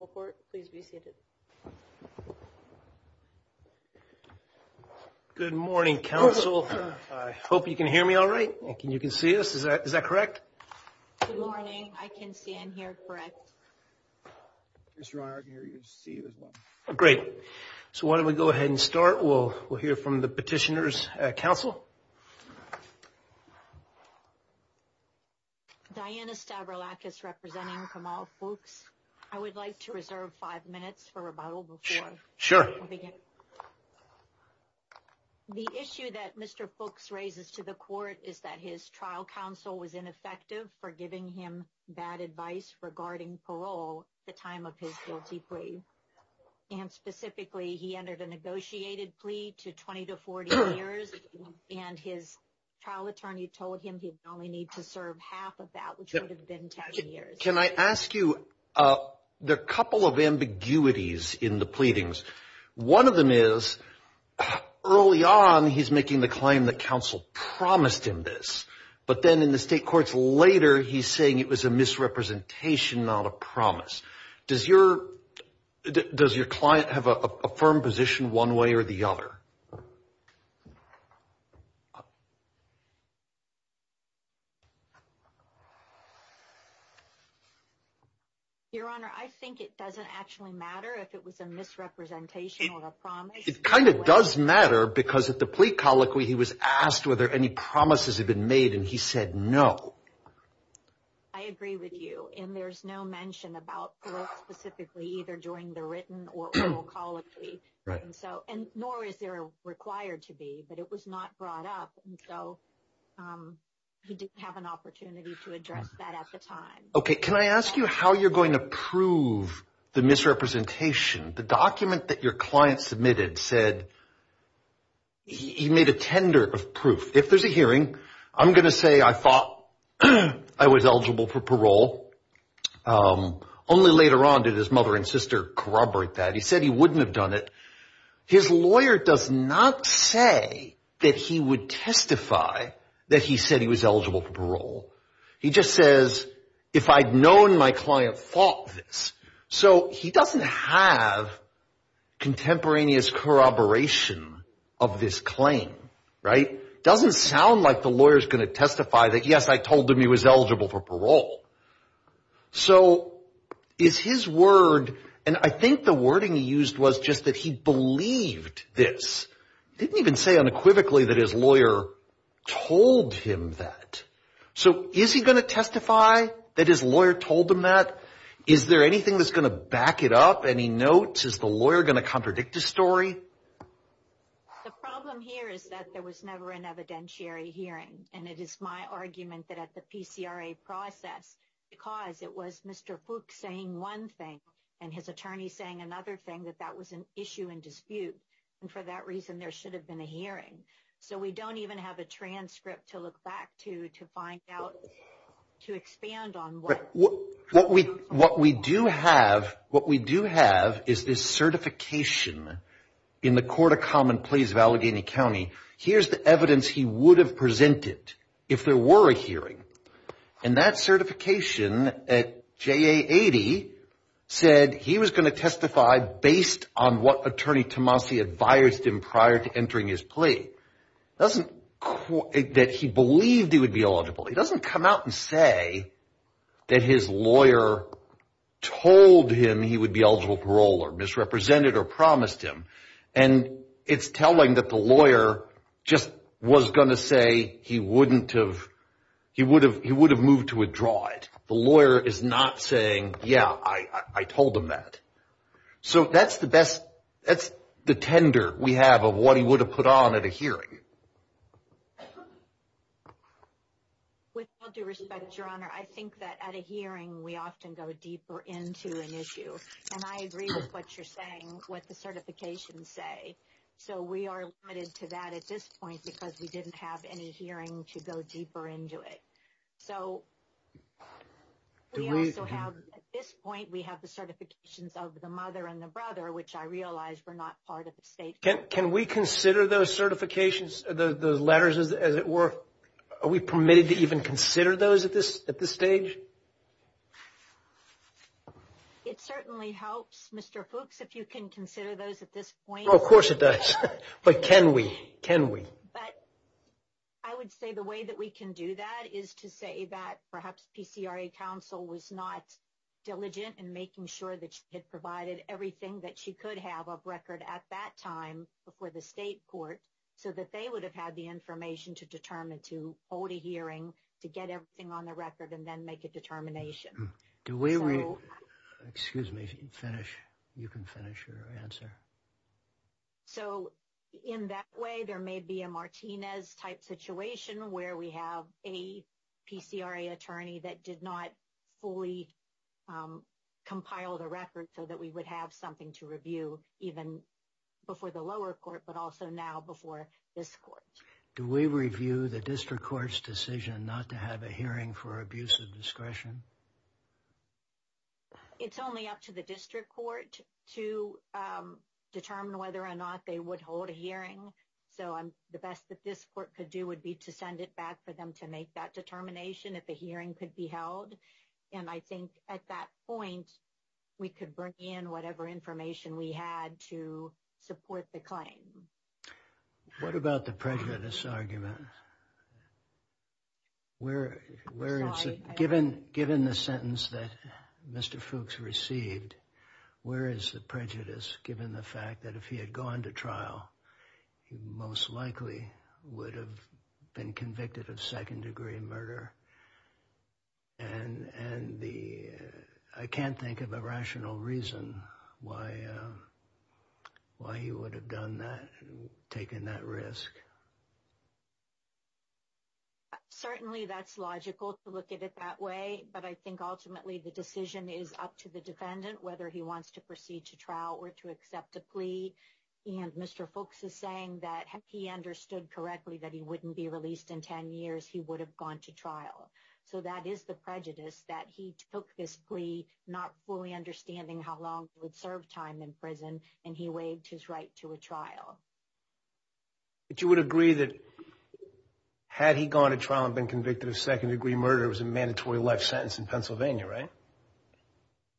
Report please be seated. Good morning council. I hope you can hear me all right and you can see us. Is that is that correct? Good morning. I can see and hear correct. Mr. Arden you can see as well. Great. So why don't we go ahead and start. We'll we'll hear from the petitioners council. Diana Stavrolakis representing Kamau Fooks. I would like to reserve five minutes for rebuttal before. Sure. The issue that Mr. Fooks raises to the court is that his trial counsel was ineffective for giving him bad advice regarding parole at the time of his guilty plea and specifically he entered a negotiated plea to 20 to 40 years and his trial attorney told him he'd only need to serve half of that which would have been 10 years. Can I ask you there are a couple of ambiguities in the pleadings. One of them is early on he's making the claim that counsel promised him this but then in the state courts later he's saying it was a misrepresentation not a promise. Does your does your client have a firm position one way or the other? Your honor I think it doesn't actually matter if it was a misrepresentation or a promise. It kind of does matter because at the plea colloquy he was asked were there any promises had been made and he said no. I agree with you and there's no mention about specifically either during the written or oral colloquy and so and nor is there required to be but it was not brought up so he didn't have an opportunity to address that at the time. Okay can I ask you how you're going to prove the misrepresentation the document that your client submitted said he made a tender of proof if there's a hearing I'm going to say I thought I was eligible for parole only later on did his mother and sister corroborate that he said he wouldn't have done it his lawyer does not say that he would testify that he said he was eligible for parole he just says if I'd known my client thought this so he doesn't have contemporaneous corroboration of this claim right doesn't sound like the lawyer's going to testify that yes I told him was eligible for parole so is his word and I think the wording he used was just that he believed this didn't even say unequivocally that his lawyer told him that so is he going to testify that his lawyer told him that is there anything that's going to back it up any notes is the lawyer going to contradict the story the problem here is that there was never an evidentiary hearing and it is my argument that at the PCRA process because it was Mr. Fook saying one thing and his attorney saying another thing that that was an issue and dispute and for that reason there should have been a hearing so we don't even have a transcript to look back to to find out to expand on what what we what we do have what we do have is this certification in the court of common pleas of Allegheny County here's the evidence he would have presented if there were a hearing and that certification at JA 80 said he was going to testify based on what attorney Tomasi advised him prior to entering his plea doesn't that he believed he would be eligible he doesn't come out and say that his lawyer told him he would be eligible parole or misrepresented or promised him and it's telling that the lawyer just was going to say he wouldn't have he would have he would have moved to withdraw it the lawyer is not saying yeah I I told him that so that's the best that's the tender we have of what he would have put on at a hearing with all due respect your honor I think that at a hearing we often go deeper into an issue and I agree with what you're saying what the certifications say so we are limited to that at this point because we didn't have any hearing to go deeper into it so do we also have at this point we have the certifications of the mother and the brother which I realize we're not part of the state can we consider those certifications the those letters as it were are we permitted to even consider those at this at this stage it certainly helps Mr. Fuchs if you can consider those at this point of course it does but can we can we but I would say the way that we can do that is to say that perhaps PCRA counsel was not diligent in making sure that she had provided everything that she could have a record at that time before the state court so that they would have had the information to determine to hold a determination do we excuse me finish you can finish your answer so in that way there may be a Martinez type situation where we have a PCRA attorney that did not fully compile the record so that we would have something to review even before the lower court but also now before this do we review the district court's decision not to have a hearing for abuse of discretion it's only up to the district court to determine whether or not they would hold a hearing so I'm the best that this court could do would be to send it back for them to make that determination if a hearing could be held and I think at that point we could bring in whatever information we had to support the claim what about the prejudice argument where where it's given given the sentence that Mr. Fuchs received where is the prejudice given the fact that if he had gone to trial he most likely would have been convicted of second degree murder and and the I can't think of a rational reason why why he would have done that taken that risk certainly that's logical to look at it that way but I think ultimately the decision is up to the defendant whether he wants to proceed to trial or to accept a plea and Mr. Fuchs is saying that he understood correctly that he wouldn't be released in 10 years he would have gone to trial so that is the prejudice that he took this plea not fully understanding how long it would serve time in prison and he waived his right to a trial but you would agree that had he gone to trial and been convicted of second degree murder it was a mandatory life sentence in Pennsylvania right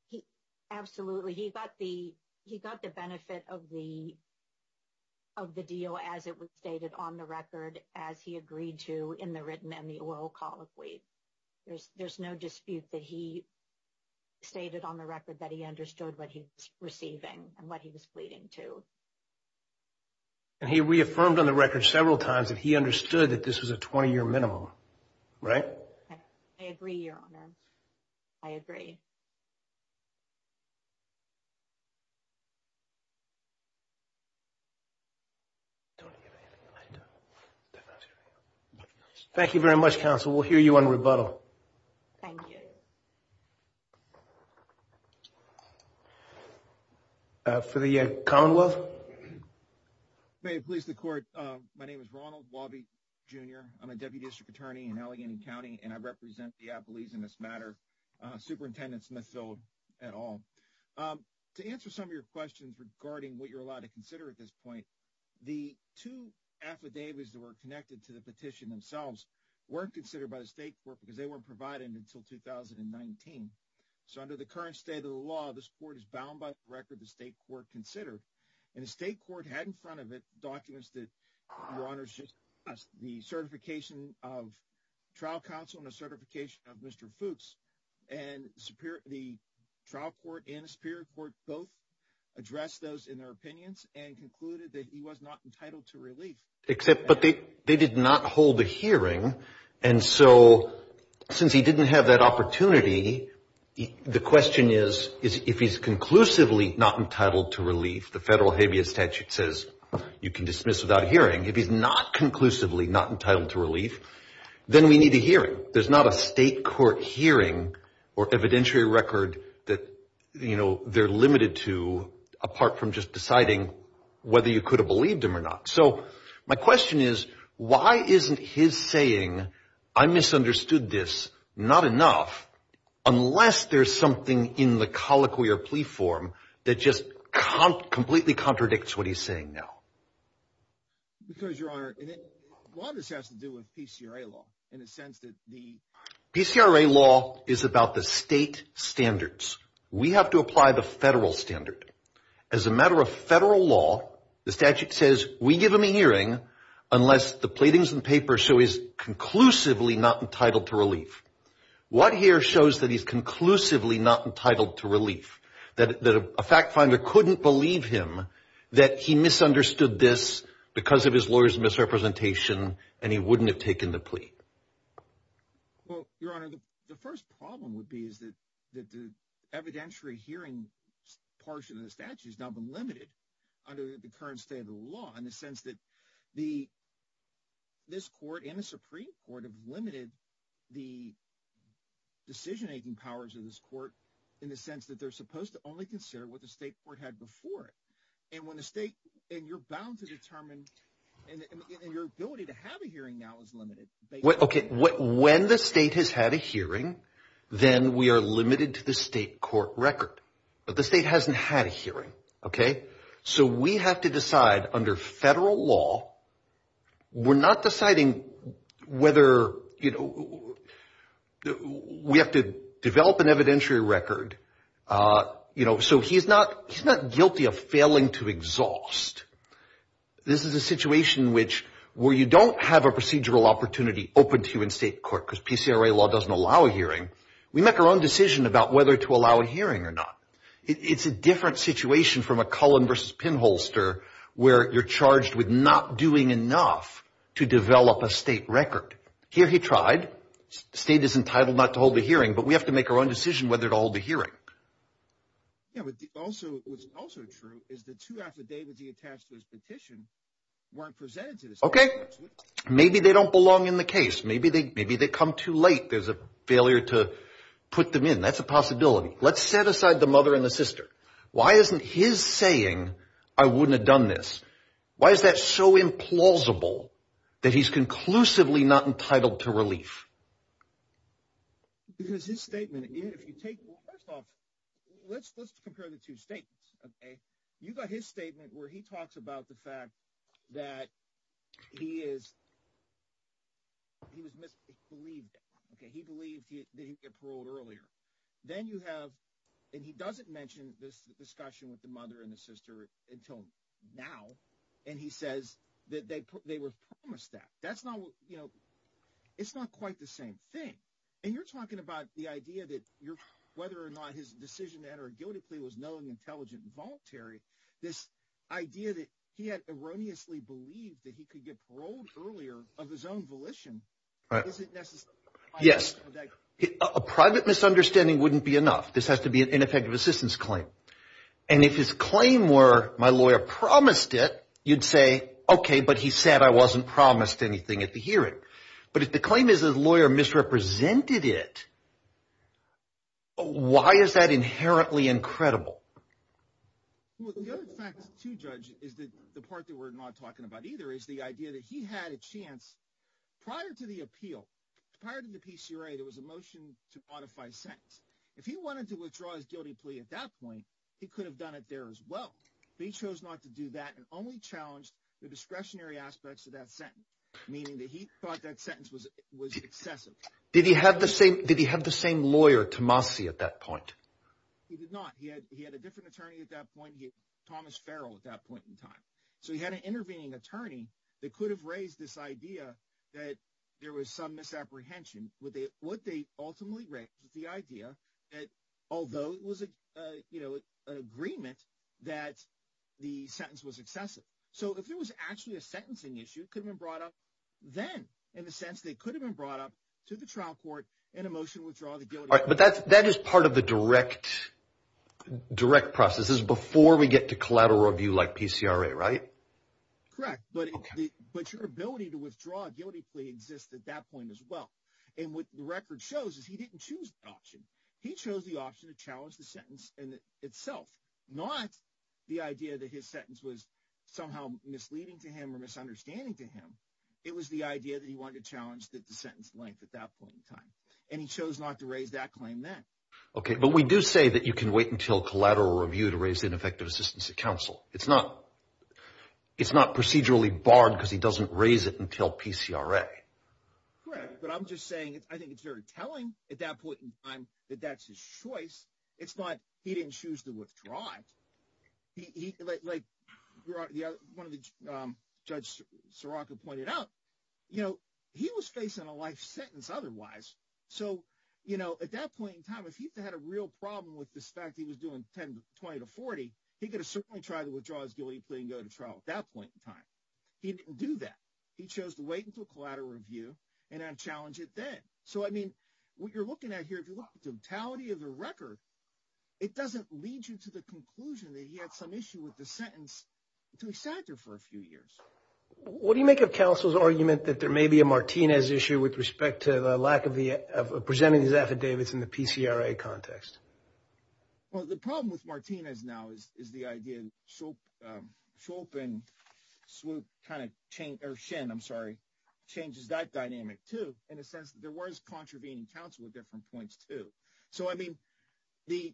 he absolutely he got the he got the benefit of the of the deal as it was stated on the record as he agreed to in the written and the oral colloquy there's there's no dispute that he stated on the record that he understood what he was receiving and what he was pleading to and he reaffirmed on the record several times that he understood that this was a 20-year minimum right I agree your honor I agree thank you very much counsel we'll hear you on rebuttal thank you uh for the uh commonwealth may it please the court uh my name is Ronald Wabi jr I'm a deputy district attorney in Allegheny county and I represent the Appalachian this matter uh superintendent Smith-Philip et al um to answer some of your questions regarding what you're allowed to consider at this point the two affidavits that were connected to the petition themselves weren't considered by the state court because they weren't provided until 2019 so under the current state of the law this court is bound by the record the state court considered and the state court had in front of it documents that your honor's just the certification of trial counsel and a certification of mr Fuchs and superior the trial court and superior court both addressed those in their opinions and concluded that he was not entitled to relief except but they they did not hold a hearing and so since he didn't have that opportunity the question is is if he's conclusively not entitled to relief the federal statute says you can dismiss without hearing if he's not conclusively not entitled to relief then we need a hearing there's not a state court hearing or evidentiary record that you know they're limited to apart from just deciding whether you could have believed him or not so my question is why isn't his saying I misunderstood this not enough unless there's something in the colloquial that just completely contradicts what he's saying now because your honor and it a lot of this has to do with PCRA law in a sense that the PCRA law is about the state standards we have to apply the federal standard as a matter of federal law the statute says we give him a hearing unless the pleadings and papers show is conclusively not entitled to relief what here shows that he's conclusively not entitled to relief that a fact finder couldn't believe him that he misunderstood this because of his lawyer's misrepresentation and he wouldn't have taken the plea well your honor the first problem would be is that that the evidentiary hearing portion of the statute has now been limited under the current state of the law in the sense that the this court and the supreme court have limited the decision-making powers of this court in the sense that they're supposed to only consider what the state court had before it and when the state and you're bound to determine and your ability to have a hearing now is limited okay when the state has had a hearing then we are limited to the state court record but the state hasn't had a hearing okay so we have to decide under federal law we're not deciding whether you know we have to develop an evidentiary record uh you know so he's not he's not guilty of failing to exhaust this is a situation which where you don't have a procedural opportunity open to you in state court because PCRA law doesn't allow a hearing we make our own decision about whether to allow a it's a different situation from a cullen versus pinholster where you're charged with not doing enough to develop a state record here he tried the state is entitled not to hold the hearing but we have to make our own decision whether to hold the hearing yeah but also what's also true is the two affidavits he attached to his petition weren't presented to this okay maybe they don't belong in the case maybe they maybe they come too late there's a failure to put them in that's a mother and a sister why isn't his saying i wouldn't have done this why is that so implausible that he's conclusively not entitled to relief because his statement if you take first off let's let's compare the two statements okay you got his statement where he talks about the fact that he is he was misbelieved okay he believed that he'd get paroled earlier then you have and he doesn't mention this discussion with the mother and the sister until now and he says that they put they were promised that that's not you know it's not quite the same thing and you're talking about the idea that you're whether or not his decision to enter a guilty plea was knowing intelligent and voluntary this idea that he had erroneously believed that he could get paroled earlier of his own volition right is it necessary yes a private misunderstanding wouldn't be enough this has to be an ineffective assistance claim and if his claim were my lawyer promised it you'd say okay but he said i wasn't promised anything at the hearing but if the claim is a lawyer misrepresented it why is that inherently incredible well the other fact to judge is that the part that we're not talking about either is idea that he had a chance prior to the appeal prior to the pcra there was a motion to modify sentence if he wanted to withdraw his guilty plea at that point he could have done it there as well but he chose not to do that and only challenged the discretionary aspects of that sentence meaning that he thought that sentence was was excessive did he have the same did he have the same lawyer tomasi at that point he did not he had he had a different attorney at that point thomas farrell at that point in time so he had an intervening attorney that could have raised this idea that there was some misapprehension would they would they ultimately raise the idea that although it was a you know an agreement that the sentence was excessive so if there was actually a sentencing issue could have been brought up then in the sense they could have been brought up to the trial court in a motion to withdraw the guilt but that's that is part of the direct direct processes before we get to collateral review like pcra right correct but but your ability to withdraw a guilty plea exists at that point as well and what the record shows is he didn't choose the option he chose the option to challenge the sentence and itself not the idea that his sentence was somehow misleading to him or misunderstanding to him it was the idea that he wanted to challenge that the sentence length at that point in time and he chose not to raise that okay but we do say that you can wait until collateral review to raise ineffective assistance to counsel it's not it's not procedurally barred because he doesn't raise it until pcra correct but i'm just saying i think it's very telling at that point in time that that's his choice it's not he didn't choose to withdraw it he like the other one of the um judge saraka pointed out you know he was facing a life sentence otherwise so you know at that point in time if he had a real problem with this fact he was doing 10 20 to 40 he could have certainly tried to withdraw his guilty plea and go to trial at that point in time he didn't do that he chose to wait until collateral review and then challenge it then so i mean what you're looking at here if you look at the totality of the record it doesn't lead you to the conclusion that he had some issue with the sentence until he sat there for a few years what do you make of counsel's argument that there may be a martinez issue with respect to the lack of the of presenting these affidavits in the pcra context well the problem with martinez now is is the idea so um chopin swoop kind of change or shin i'm sorry changes that dynamic too in a sense there was contravening counsel with different points too so i mean the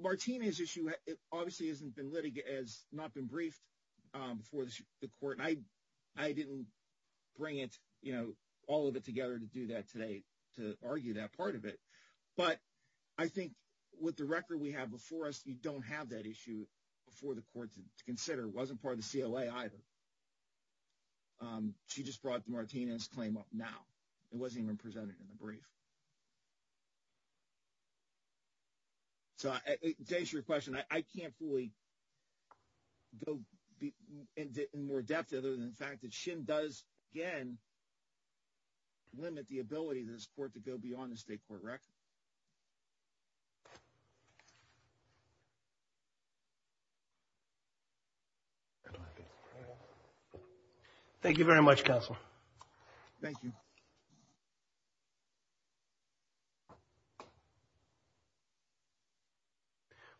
martinez issue it obviously hasn't been litigated as not been briefed um before the court i i didn't bring it you know all of it together to do that today to argue that part of it but i think with the record we have before us you don't have that issue before the court to consider it wasn't part of the cla either um she just brought the martinez claim up now it wasn't even presented in the brief so to answer your question i can't fully go in more depth other than the fact that shin does again limit the ability of this court to go beyond the state court record thank you very much counsel thank you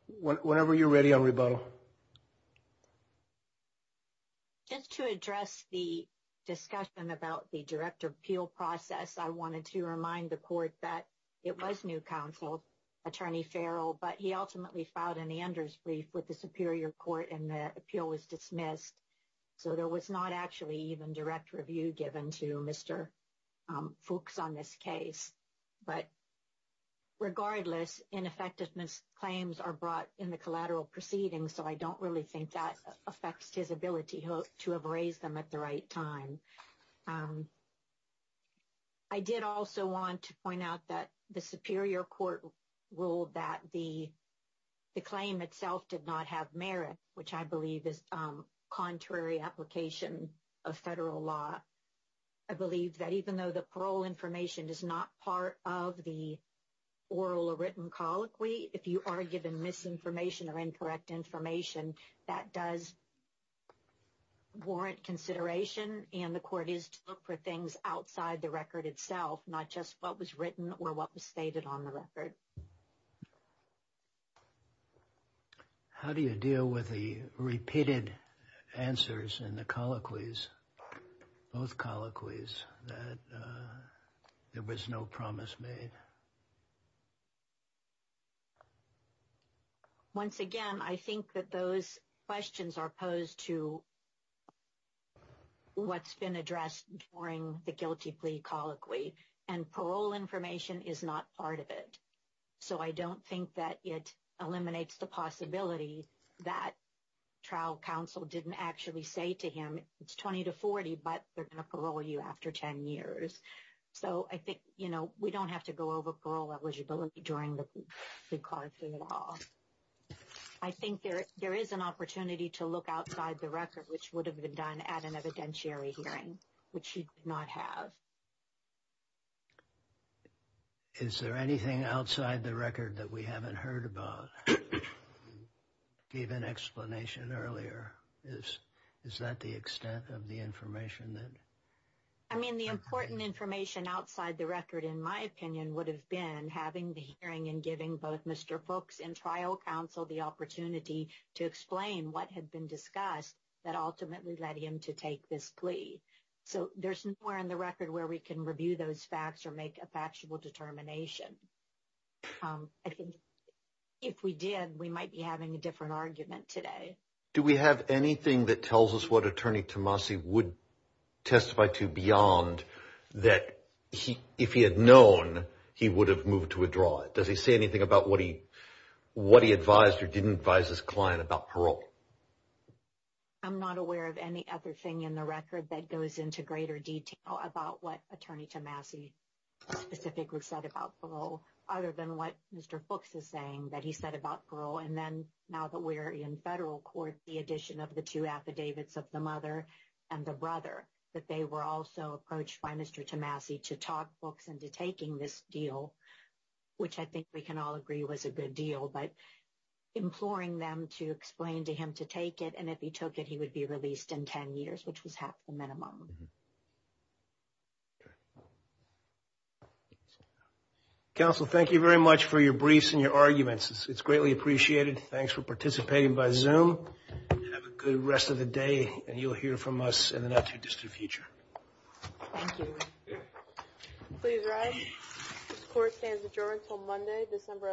you whenever you're ready on rebuttal just to address the discussion about the direct appeal process i wanted to remind the court that it was new counsel attorney farrell but he ultimately filed an anders brief with the superior court and the appeal was dismissed so there was not actually even direct review given to mr um folks on this case but regardless ineffectiveness claims are brought in the collateral proceedings so i don't really think that affects his ability to have raised them at the right time um i did also want to point out that the superior court ruled that the the claim itself did not have merit which i believe is um contrary application of federal law i believe that even though the parole information is not part of the oral or written colloquy if you are given misinformation or incorrect information that does warrant consideration and the court is to look for things outside the record itself not just what was written or what was stated on the record um how do you deal with the repeated answers in the colloquies both colloquies that there was no promise made once again i think that those questions are posed to what's been addressed during the guilty plea colloquy and parole information is not part of it so i don't think that it eliminates the possibility that trial counsel didn't actually say to him it's 20 to 40 but they're going to parole you after 10 years so i think you know we don't have to go over parole eligibility during the car for the law i think there there is an opportunity to look outside the record which would have been done at an evidentiary hearing which he did not have is there anything outside the record that we haven't heard about gave an explanation earlier is is that the extent of the information that i mean the important information outside the record in my opinion would have been having the hearing and giving both mr folks and trial counsel the opportunity to explain what had been discussed that ultimately led him to take this plea so there's nowhere in the record where we can review those facts or make a factual determination i think if we did we might be having a different argument today do we have anything that tells us what attorney tomasi would testify to beyond that he if he had known he would have moved to withdraw it does he say anything about what he what he advised or didn't advise about parole i'm not aware of any other thing in the record that goes into greater detail about what attorney tomasi specifically said about parole other than what mr folks is saying that he said about parole and then now that we're in federal court the addition of the two affidavits of the mother and the brother that they were also approached by mr tomasi to talk books into this deal which i think we can all agree was a good deal but imploring them to explain to him to take it and if he took it he would be released in 10 years which was half the minimum counsel thank you very much for your briefs and your arguments it's greatly appreciated thanks for participating by zoom have a good rest of the day and you'll hear from us in the not too this court stands adjourned until monday december 11th